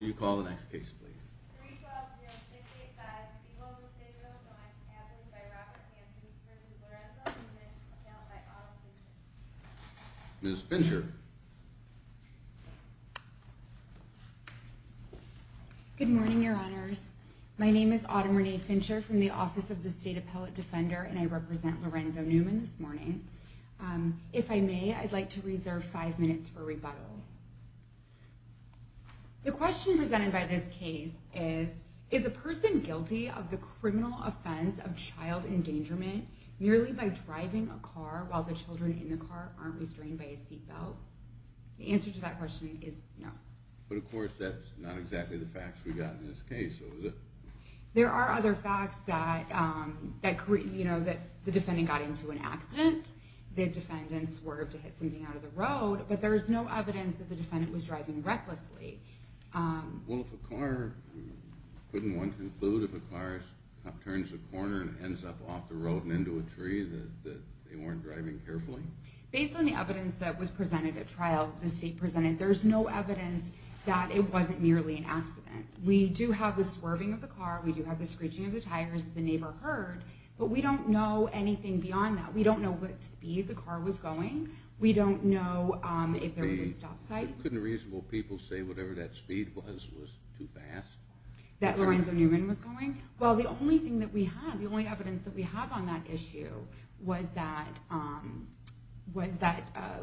You call the next case, please. Miss Fincher. Good morning, your honors. My name is Autumn Renee Fincher from the Office of the State Appellate Defender, and I represent Lorenzo Newman this morning. If I may, I'd like to reserve five minutes for rebuttal. The question presented by this case is, is a person guilty of the criminal offense of child endangerment merely by driving a car while the children in the car aren't restrained by a seat belt? The answer to that question is no. But of course, that's not exactly the facts we got in this case, is it? There are other facts that the defendant got into an accident, the defendant swerved to hit something out of the road, but there's no evidence that the defendant was driving recklessly. Well, if a car, couldn't one conclude if a car turns a corner and ends up off the road and into a tree that they weren't driving carefully? Based on the evidence that was presented at trial, the state presented, there's no evidence that it wasn't merely an accident. We do have the swerving of the car, we do have the screeching of the tires that the neighbor heard, but we don't know anything beyond that. We don't know what speed the car was going, we don't know if there was a stop sight. Couldn't reasonable people say whatever that speed was was too fast? That Lorenzo Newman was going? Well, the only thing that we have, the only evidence that we have on that issue was that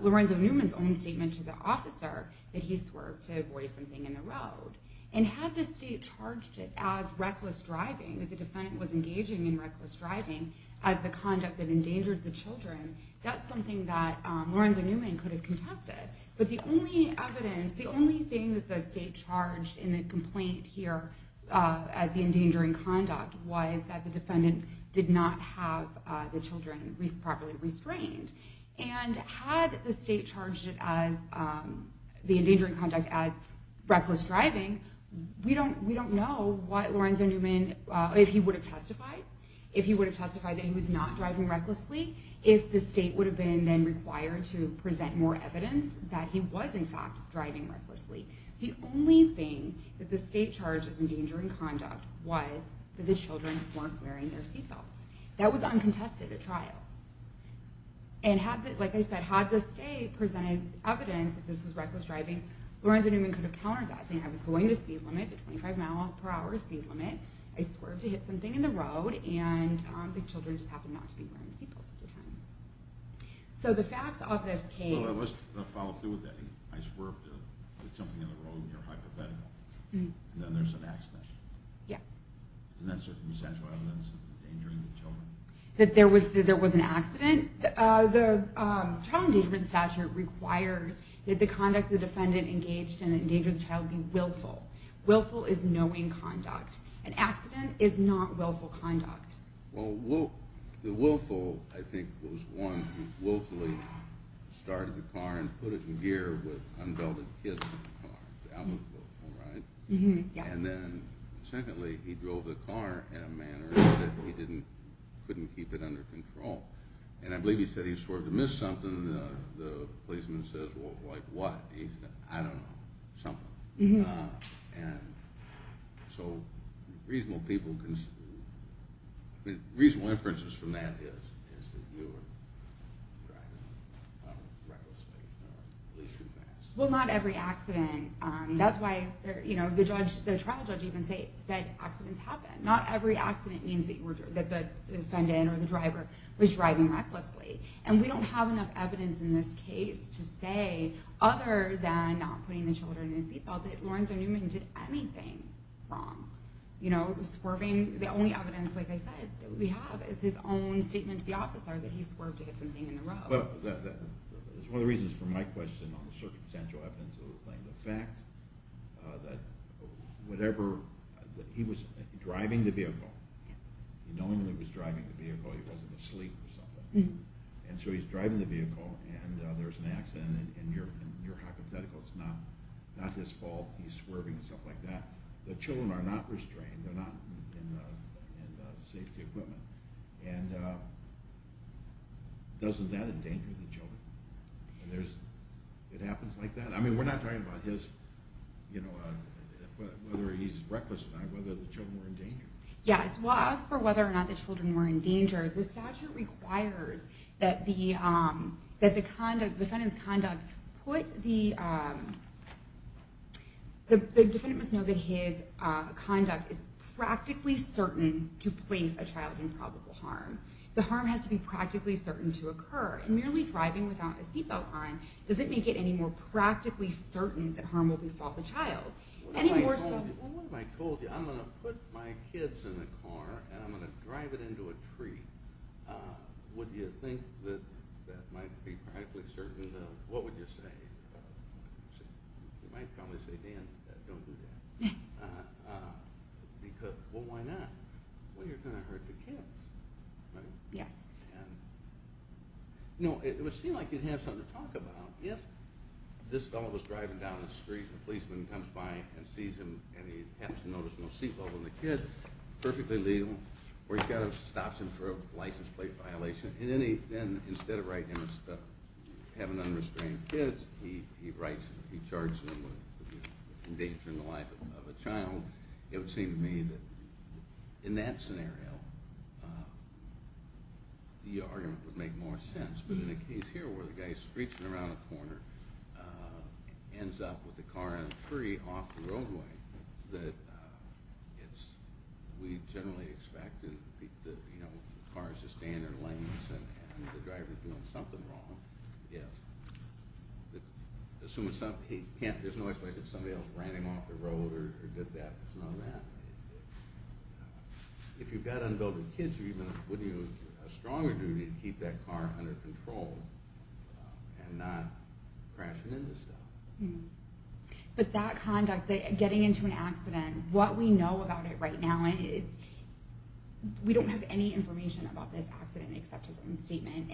Lorenzo Newman's own statement to the officer that he swerved to avoid something in the road. And had the state charged it as reckless driving, that the defendant was engaging in reckless driving as the conduct that endangered the children, that's something that Lorenzo Newman could have contested. But the only evidence, the only thing that the state charged in the complaint here as the endangering conduct was that the defendant did not have the children properly restrained. And had the state charged it as, the endangering conduct as reckless driving, we don't know what Lorenzo Newman, if he would have testified, if he would have testified that he was not driving recklessly, if the state would have been then required to present more evidence that he was in fact driving recklessly. The only thing that the state charged as endangering conduct was that the children weren't wearing their seatbelts. That was uncontested at trial. And had the, like I said, had the state presented evidence that this was reckless driving, Lorenzo Newman could have countered that, saying I was going the speed limit, the 25 mile per hour speed limit, I swerved to hit something in the road, and the children just happened not to be wearing seatbelts at the time. So the facts of this case... Well, let's follow through with that. I swerved to hit something in the road, and you're hypothetical. And then there's an accident. Yeah. And that's circumstantial evidence of endangering the children. That there was an accident. The child endangerment statute requires that the conduct the defendant engaged in that endangered the child be willful. Willful is knowing conduct. An accident is not willful conduct. Well, the willful, I think, was one who willfully started the car and put it in gear with unbelted kids in the car. That was willful, right? Yes. And then, secondly, he drove the car in a manner that he couldn't keep it under control. And I believe he said he swerved to miss something. The policeman says, well, like what? I don't know. Something. And so reasonable people... Reasonable inferences from that is that you were driving recklessly or at least too fast. Well, not every accident. That's why the trial judge even said accidents happen. Not every accident means that the defendant or the driver was driving recklessly. And we don't have enough evidence in this case to say, other than not putting the children in a seat belt, that Lawrence O. Newman did anything wrong. You know, swerving. The only evidence, like I said, that we have is his own statement to the officer that he swerved to hit something in the road. It's one of the reasons for my question on the circumstantial evidence of the plane. The fact that whatever... He was driving the vehicle. He normally was driving the vehicle. He wasn't asleep or something. And so he's driving the vehicle and there's an accident and you're hypothetical. It's not his fault. He's swerving and stuff like that. The children are not restrained. They're not in safety equipment. And doesn't that endanger the children? It happens like that? I mean, we're not talking about his... Whether he's reckless or not. Whether the children were in danger. Yes. As for whether or not the children were in danger, the statute requires that the defendant's conduct put the... The defendant must know that his conduct is practically certain to place a child in prison. The harm has to be practically certain to occur. And merely driving without a seatbelt on doesn't make it any more practically certain that harm will befall the child. What if I told you I'm going to put my kids in a car and I'm going to drive it into a tree? Would you think that that might be practically certain? What would you say? You might probably say, Dan, don't do that. Because, well, why not? Well, you're going to hurt the kids, right? Yes. You know, it would seem like you'd have something to talk about. If this fellow was driving down the street, the policeman comes by and sees him and he happens to notice no seatbelt on the kid, perfectly legal, or he stops him for a license plate violation, and then instead of writing, having unrestrained kids, he writes and he charges him with endangering the life of a child, it would seem to me that in that scenario the argument would make more sense. But in the case here where the guy is screeching around a corner and ends up with the car in a tree off the roadway, that we generally expect that, you know, the car is just standing in lanes and the driver is doing something wrong. Assuming something, there's no way somebody else ran him off the road or did that. There's no way. If you've got unbilled kids, it would be a stronger duty to keep that car under control and not crashing into stuff. But that conduct, getting into an accident, what we know about it right now is we don't have any information about this accident except his own statement.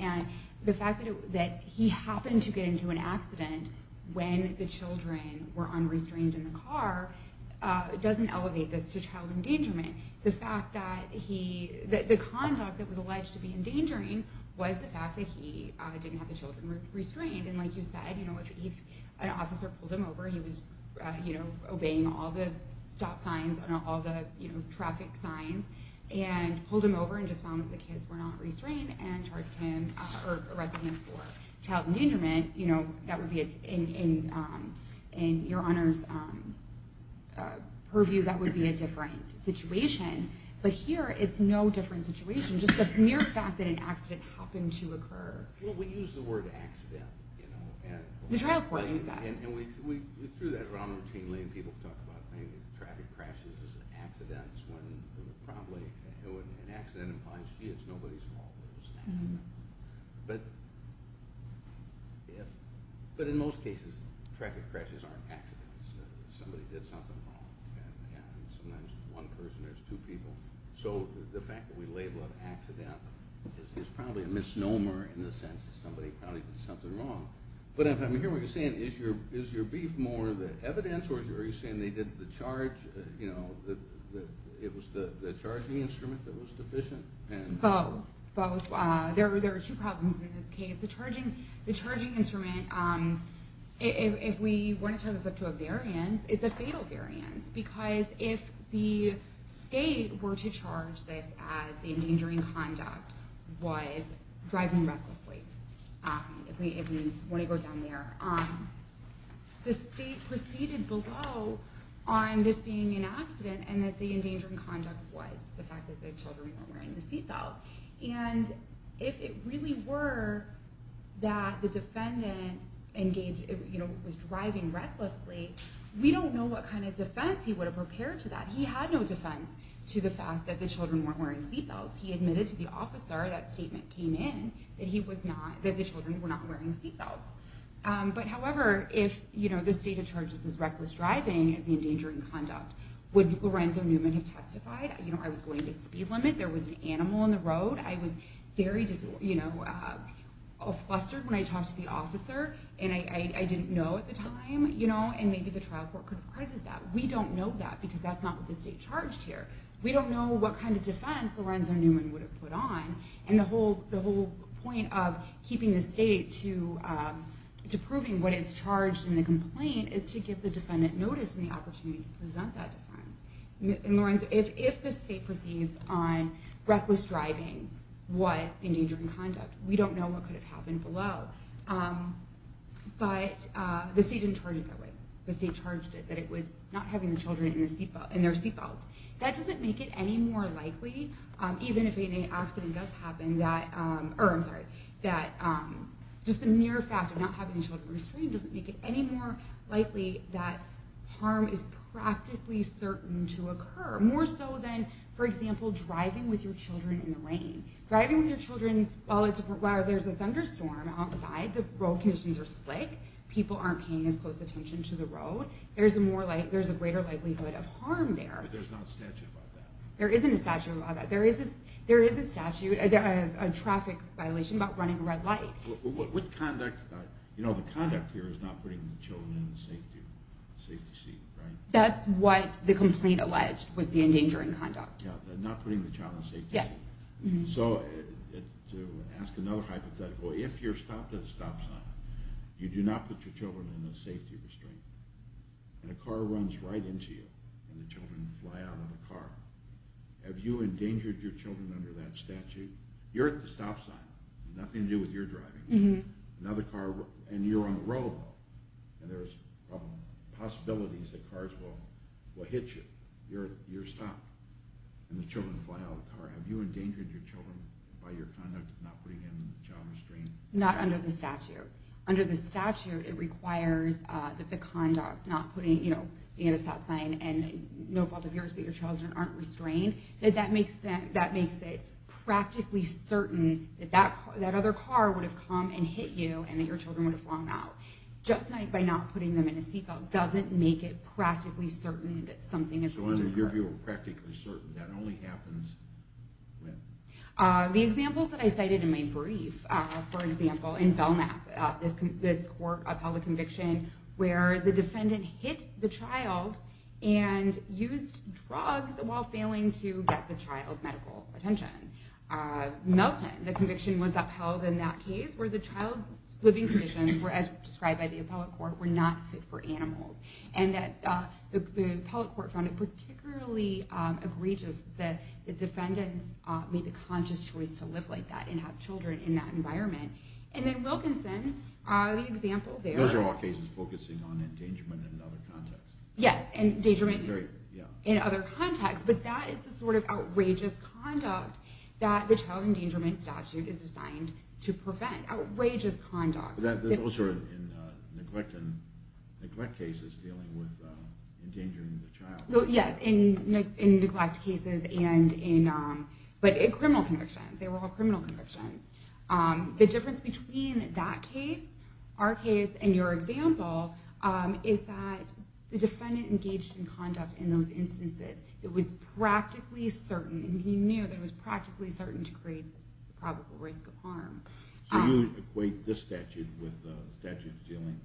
The fact that he happened to get into an accident when the children were unrestrained in the car doesn't elevate this to child endangerment. The fact that he the conduct that was alleged to be endangering was the fact that he didn't have the children restrained. And like you said, an officer pulled him over, he was obeying all the stop signs and all the traffic signs and pulled him over and just found that the kids were not restrained and charged him for child endangerment. That would be in your Honor's purview that would be a different situation. But here, it's no different situation. Just the mere fact that an accident happened to occur. We use the word accident. The trial court used that. We threw that around routinely and people talk about traffic crashes and accidents when an accident implies nobody's fault. But if but in most cases, traffic crashes aren't accidents. Somebody did something wrong. Sometimes one person or two people. So the fact that we label it accident is probably a misnomer in the sense that somebody probably did something wrong. But if I'm hearing what you're saying is your beef more the evidence or are you saying they did the charge you know it was the charging instrument that was deficient? Both. There were two problems in this case. The charging instrument if we want to turn this up to a variance it's a fatal variance because if the state were to charge this as the endangering conduct was driving recklessly if we want to go down there the state proceeded below on this being an accident and that the endangering conduct was the fact that the children weren't wearing the seatbelt and if it really were that the defendant was driving recklessly we don't know what kind of defense he would have prepared to that. He had no defense to the fact that the children weren't wearing seatbelts. He admitted to the officer that statement came in that the children were not wearing seatbelts. However, if the state charges as reckless driving as the endangering conduct, would Lorenzo Newman have testified? I was going to speed limit there was an animal on the road I was very flustered when I talked to the officer and I didn't know at the time and maybe the trial court could have credited that. We don't know that because that's not what the state charged here. We don't know what kind of defense Lorenzo Newman would have put on and the whole point of keeping the state to proving what is charged in the complaint is to give the defendant notice and the opportunity to If the state proceeds on reckless driving was endangering conduct, we don't know what could have happened below. But the state didn't charge it that way. The state charged it that it was not having the children in their seatbelts. That doesn't make it any more likely, even if an accident does happen, that just the mere fact of not having the children restrained doesn't make it any more likely that harm is practically certain to occur. More so than for example, driving with your children in the rain. Driving with your children while there's a thunderstorm outside, the road conditions are slick, people aren't paying as close attention to the road, there's a greater likelihood of harm there. But there's not a statute about that. There isn't a statute about that. There is a statute a traffic violation about running a red light. The conduct here is not putting the children in the safety seat. That's what the complaint alleged was the endangering conduct. Not putting the child in the safety seat. So to ask another hypothetical, if you're stopped at a stop sign, you do not put your children in a safety restraint. And a car runs right into you and the children fly out of the car. Have you endangered your children under that statute? You're at the stop sign, nothing to do with your driving. Another car, and you're on the road, and there's possibilities that cars will hit you. You're stopped. And the children fly out of the car. Have you endangered your children by your conduct of not putting them in the child restraint? Not under the statute. Under the statute, it requires that the conduct, not putting the stop sign, and no fault of yours, but your children aren't restrained. That makes it practically certain that that other car would have come and hit you, and that your children would have flown out. Just by not putting them in a seatbelt doesn't make it practically certain that something is going to occur. That only happens when? The examples that I cited in my brief, for example, in Belknap, this court upheld a conviction where the defendant hit the child and used drugs while failing to get the child medical attention. Melton, the conviction was upheld in that case where the child's living conditions were, as described by the appellate court, were not fit for animals. And the appellate court found it particularly egregious that the defendant made the conscious choice to live like that and have children in that environment. And then Wilkinson, the example there... Those are all cases focusing on endangerment in other contexts. Yes, endangerment in other contexts. But that is the sort of outrageous conduct that the child endangerment statute is designed to prevent. Outrageous conduct. Those are in neglect cases dealing with endangering the child. Yes, in neglect cases and in criminal convictions. They were all criminal convictions. The difference between that case, our case, and your example is that the defendant engaged in conduct in those instances that was practically certain and he knew that it was practically certain to create the probable risk of harm. So you equate this statute with statutes dealing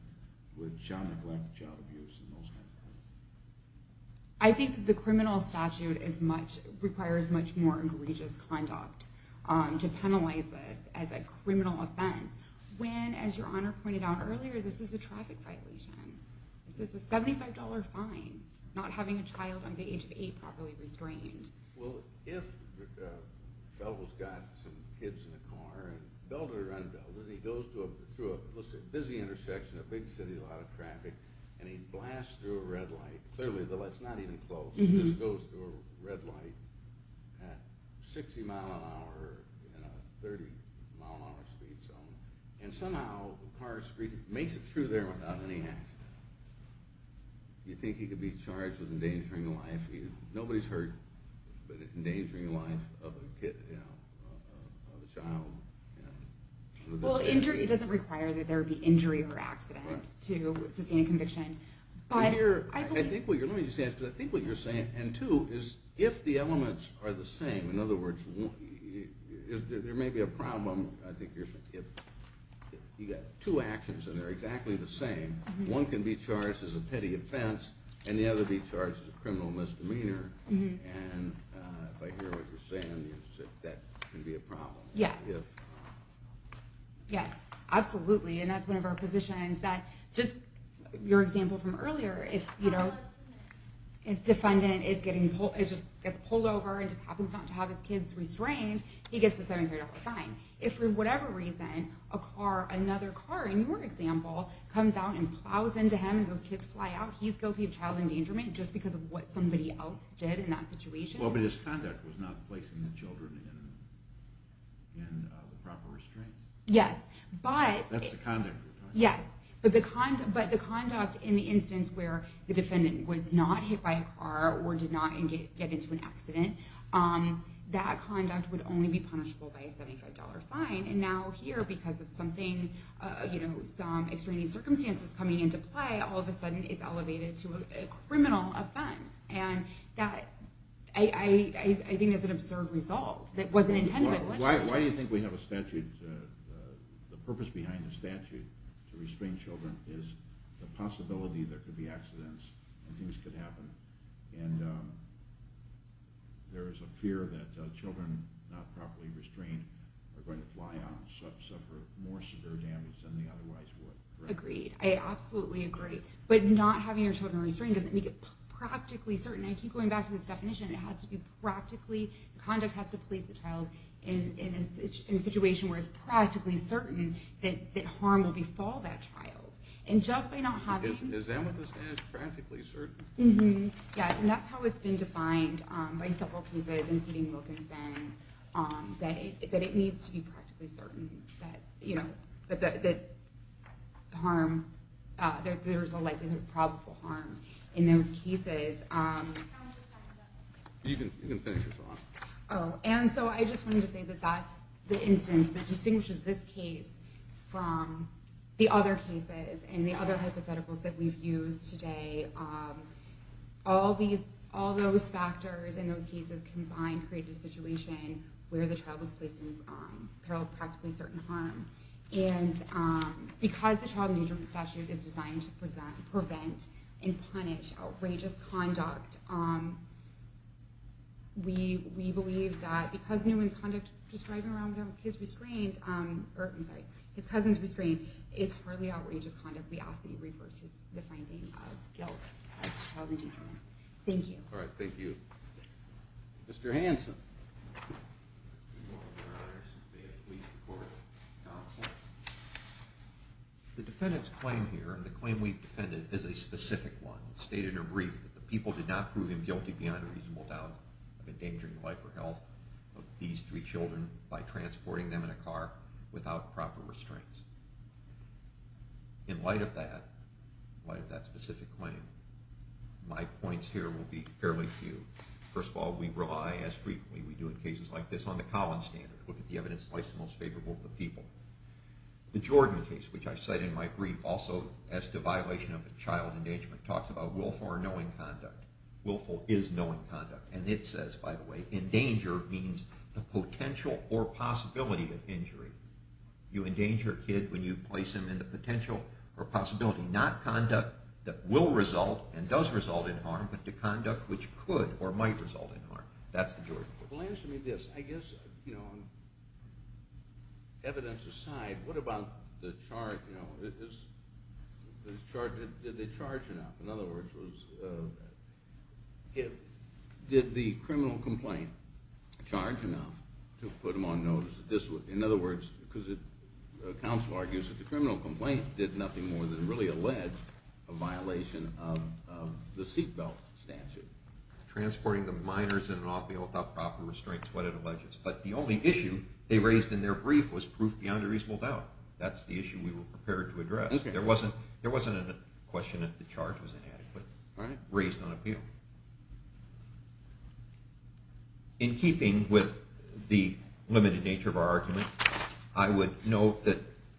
with child neglect, child abuse, and those kinds of things? I think the criminal statute requires much more egregious conduct to penalize this as a criminal offense when, as your Honor pointed out earlier, this is a traffic violation. This is a $75 fine. Not having a child under the age of 8 properly restrained. Well, if a fellow's got some kids in a car and belled it or unbelled it, he goes through a busy intersection, a big city, a lot of traffic, and he blasts through a red light. Clearly the light's not even close. He just goes through a red light at 60 mph in a 30 mph speed zone. And somehow the car makes it through there without any accident. You think he could be charged with endangering a life? Nobody's heard of endangering a life of a kid, of a child. It doesn't require that there be injury or accident to sustain a conviction. I think what you're saying, and two, is if the elements are the same, in other words, there may be a problem if you've got two actions and they're exactly the same, one can be charged as a petty offense and the other can be charged as a criminal misdemeanor. And if I hear what you're saying, that can be a problem. Yes, absolutely. And that's one of our positions that, just your example from earlier, if, you know, if a defendant gets pulled over and just happens not to have his kids restrained, he gets a car, another car, in your example, comes out and plows into him and those kids fly out, he's guilty of child endangerment just because of what somebody else did in that situation. Well, but his conduct was not placing the children in the proper restraints. Yes, but... That's the conduct you're talking about. Yes, but the conduct in the instance where the defendant was not hit by a car or did not get into an accident, that conduct would only be punishable by a $75 fine. And now here, because of something, you know, some extraneous circumstances coming into play, all of a sudden it's elevated to a criminal offense. And that, I think that's an absurd result that wasn't intended by the legislature. Why do you think we have a statute, the purpose behind the statute to restrain children is the possibility there could be accidents and things could happen, and there is a fear that children not properly restrained are going to fly out and suffer more severe damage than they otherwise would. Agreed. I absolutely agree. But not having your children restrained doesn't make it practically certain. I keep going back to this definition. It has to be practically, the conduct has to place the child in a situation where it's practically certain that harm will befall that child. And just by not having... Is that what this means, practically certain? Yeah, and that's how it's been defined by several cases, including Wilkinson, that it needs to be practically certain that harm, there's a likelihood of probable harm in those cases. You can finish this one. Oh, and so I just wanted to say that that's the instance that distinguishes this case from the other cases and the other hypotheticals that we've used today. All those factors in those cases combine to create a situation where the child was placed in peril of practically certain harm. And because the Child Endangerment Statute is designed to prevent and punish outrageous conduct, we believe that because Newman's conduct describing his cousins restrained is hardly outrageous conduct, we ask that you reverse the finding of guilt as to child endangerment. Thank you. Alright, thank you. Mr. Hanson. The defendant's claim here and the claim we've defended is a specific one. It's stated in a brief that the people did not prove him guilty beyond a reasonable doubt of endangering the life or health of these three children by transporting them in a car without proper restraints. In light of that, in light of that specific claim, my points here will be fairly few. First of all, we rely, as frequently we do in cases like this, on the Collins standard. Look at the evidence of life's most favorable to the people. The Jordan case, which I cite in my brief, also as to violation of a child endangerment, talks about willful or knowing conduct. Willful is knowing conduct. And it says, by the way, endanger means the potential or possibility of injury. You endanger a kid when you place him in the potential or possibility, not conduct that will result and does result in harm, but to conduct which could or might result in harm. That's the Jordan case. Well, answer me this. I guess, evidence aside, what about the charge? Did they charge enough? In other words, did the criminal complaint charge enough to put him on notice? In other words, because the counsel argues that the criminal complaint did nothing more than really allege a violation of the seatbelt statute. Transporting the minors in an appeal without proper restraints, what it alleges. But the only issue they raised in their brief was proof beyond a reasonable doubt. That's the issue we were prepared to address. There wasn't a question that the charge was inadequate raised on appeal. In keeping with the limited nature of our argument, I would note that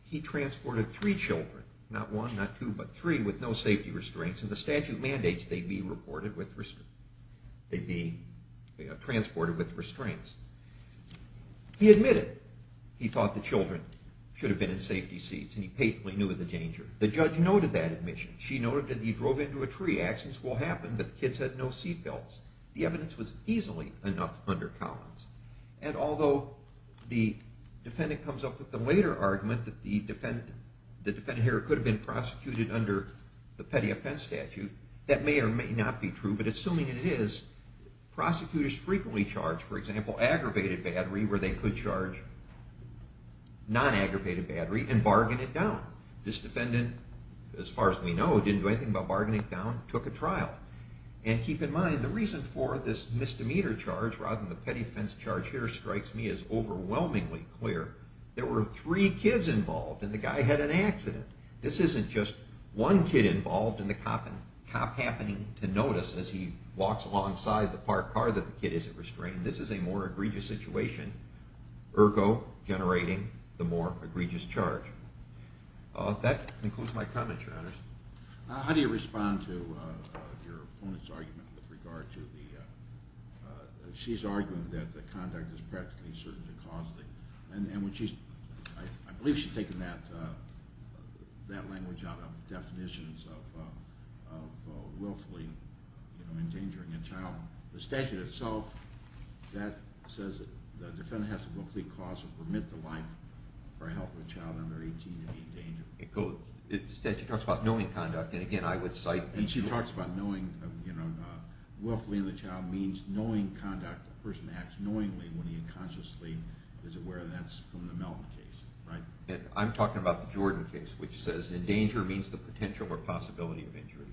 he transported three children, not one, not two, but three with no safety restraints, and the statute mandates they be transported with restraints. He admitted he thought the children should have been in safety seats, and he patently knew of the danger. The judge noted that admission. She noted that he drove into a tree. Accidents will happen, but the kids had no seatbelts. The evidence was easily enough under Collins. And although the defendant comes up with the later argument that the defendant here could have been prosecuted under the petty offense statute, that may or may not be true, but assuming it is, prosecutors frequently charge, for example, aggravated battery where they could charge non-aggravated battery and bargain it down. This defendant, as far as we know, didn't do anything but bargain it down, took a trial. And keep in mind, the reason for this misdemeanor charge rather than the petty offense charge here strikes me as overwhelmingly clear. There were three kids involved and the guy had an accident. This isn't just one kid involved and the cop happening to notice as he walks alongside the parked car that the kid isn't restrained. This is a more egregious situation, ergo, generating the more egregious charge. That concludes my comments, Your Honor. How do you respond to your opponent's argument with regard to the... She's arguing that the conduct is practically certain to cause the... I believe she's taking that language out of definitions of willfully endangering a child. The statute itself says the defendant has to willfully cause or permit the life or health of a child under 18 to be endangered. The statute talks about knowing conduct and again, I would cite... She talks about knowing... Willfully in the child means knowing conduct A person acts knowingly when he unconsciously is aware that's from the Melton case. I'm talking about the Jordan case which says endanger means the potential or possibility of injury.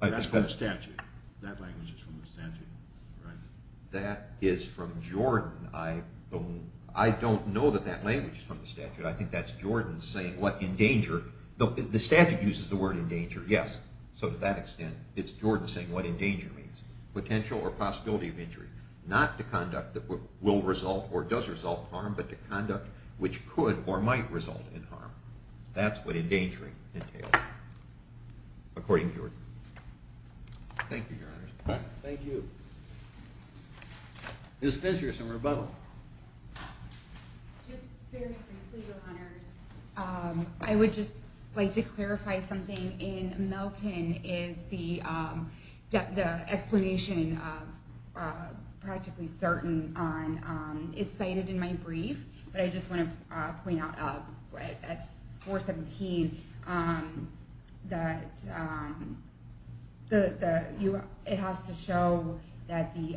That's from the statute. That language is from the statute. That is from Jordan. I don't know that that language is from the statute. I think that's Jordan saying what endanger... The statute uses the word endanger, yes. So to that extent, it's Jordan saying what endanger means. Potential or possibility of injury. Not the conduct that will result or does result in harm, but the conduct which could or might result in harm. That's what endangering entails. According to Jordan. Thank you, Your Honors. Thank you. Is there some rebuttal? Just very frankly, Your Honors, I would just like to clarify something in Melton is the explanation of practically certain is cited in my brief, but I just want to point out at 417 that it has to show that the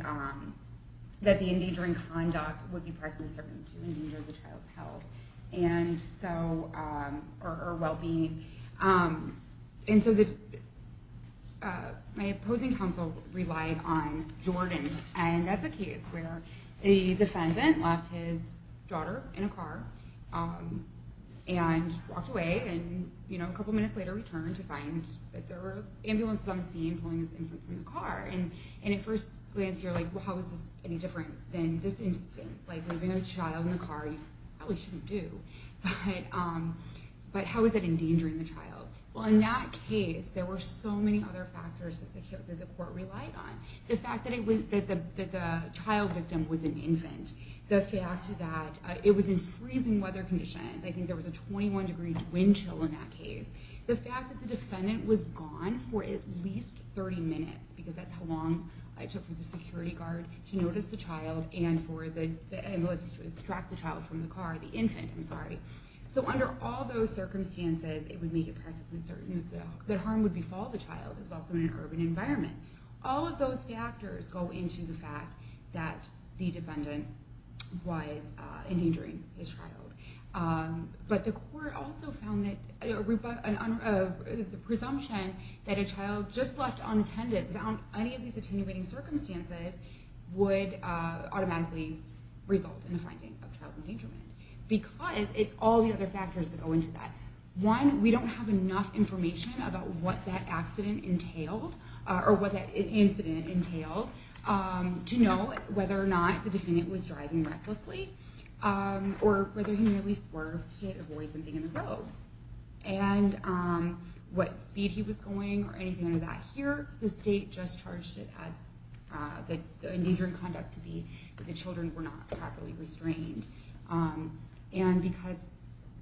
endangering conduct would be practically certain to endanger the child's health and so or well-being. So my opposing counsel relied on Jordan and that's a case where the defendant left his daughter in a car and walked away and a couple minutes later returned to find that there were ambulances on the scene pulling this infant from the car and at first glance you're like, how is this any different than this instance? Leaving a child in a car you probably shouldn't do. But how is it endangering the child? In that case, there were so many other factors that the court relied on. The fact that the child victim was an infant, the fact that it was in freezing weather conditions, I think there was a 21 degree wind chill in that case, the fact that the defendant was gone for at least 30 minutes because that's how long it took for the security guard to notice the child and for the ambulance to extract the child from the car, the infant, I'm sorry. So under all those circumstances it would make it practically certain that harm would befall the child if it was also in an urban environment. All of those factors go into the fact that the defendant was endangering his child. But the court also found that the presumption that a child just left unattended without any of these attenuating circumstances would automatically result in a finding of child endangerment because it's all the other factors that go into that. One, we don't have enough information about what that accident entailed or what that incident entailed to know whether or not the defendant was driving recklessly or whether he nearly swerved to avoid something in the road. And what speed he was going or anything like that. Here, the state just charged it as the endangerment conduct to be that the children were not properly restrained. And because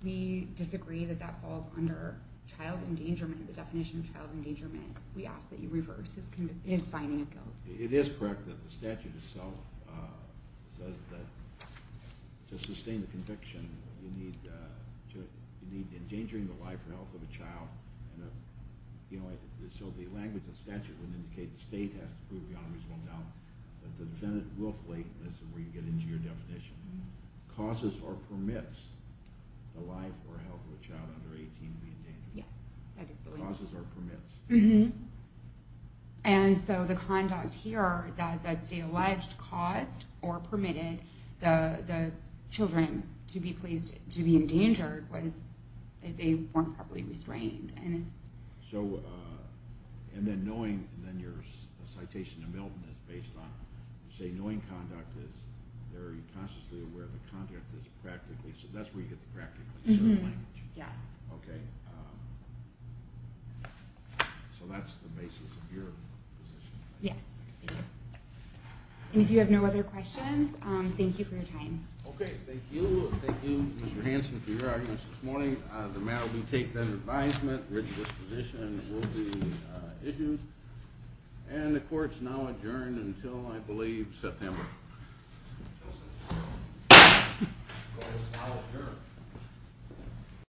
we disagree that that falls under child endangerment, the definition of child endangerment, we ask that you reverse his finding of guilt. It is correct that the statute itself says that to sustain the conviction you need endangering the life or health of a child so the language of the statute would indicate the state has to prove beyond a reasonable doubt that the defendant will flee. This is where you get into your definition. Causes or permits the life or health of a child under 18 to be endangered. Causes or permits. And so the conduct here that the state alleged caused or permitted the children to be in danger was that they weren't properly restrained. And then knowing your citation to Milton is based on knowing conduct is very consciously aware that conduct is practically so that's where you get the practical language. Yes. So that's the basis of your position. Yes. And if you have no other questions thank you for your time. Okay, thank you. Thank you Mr. Hanson for your arguments this morning. The matter will be taken under advisement. Ridged disposition will be issued. And the court's now adjourned.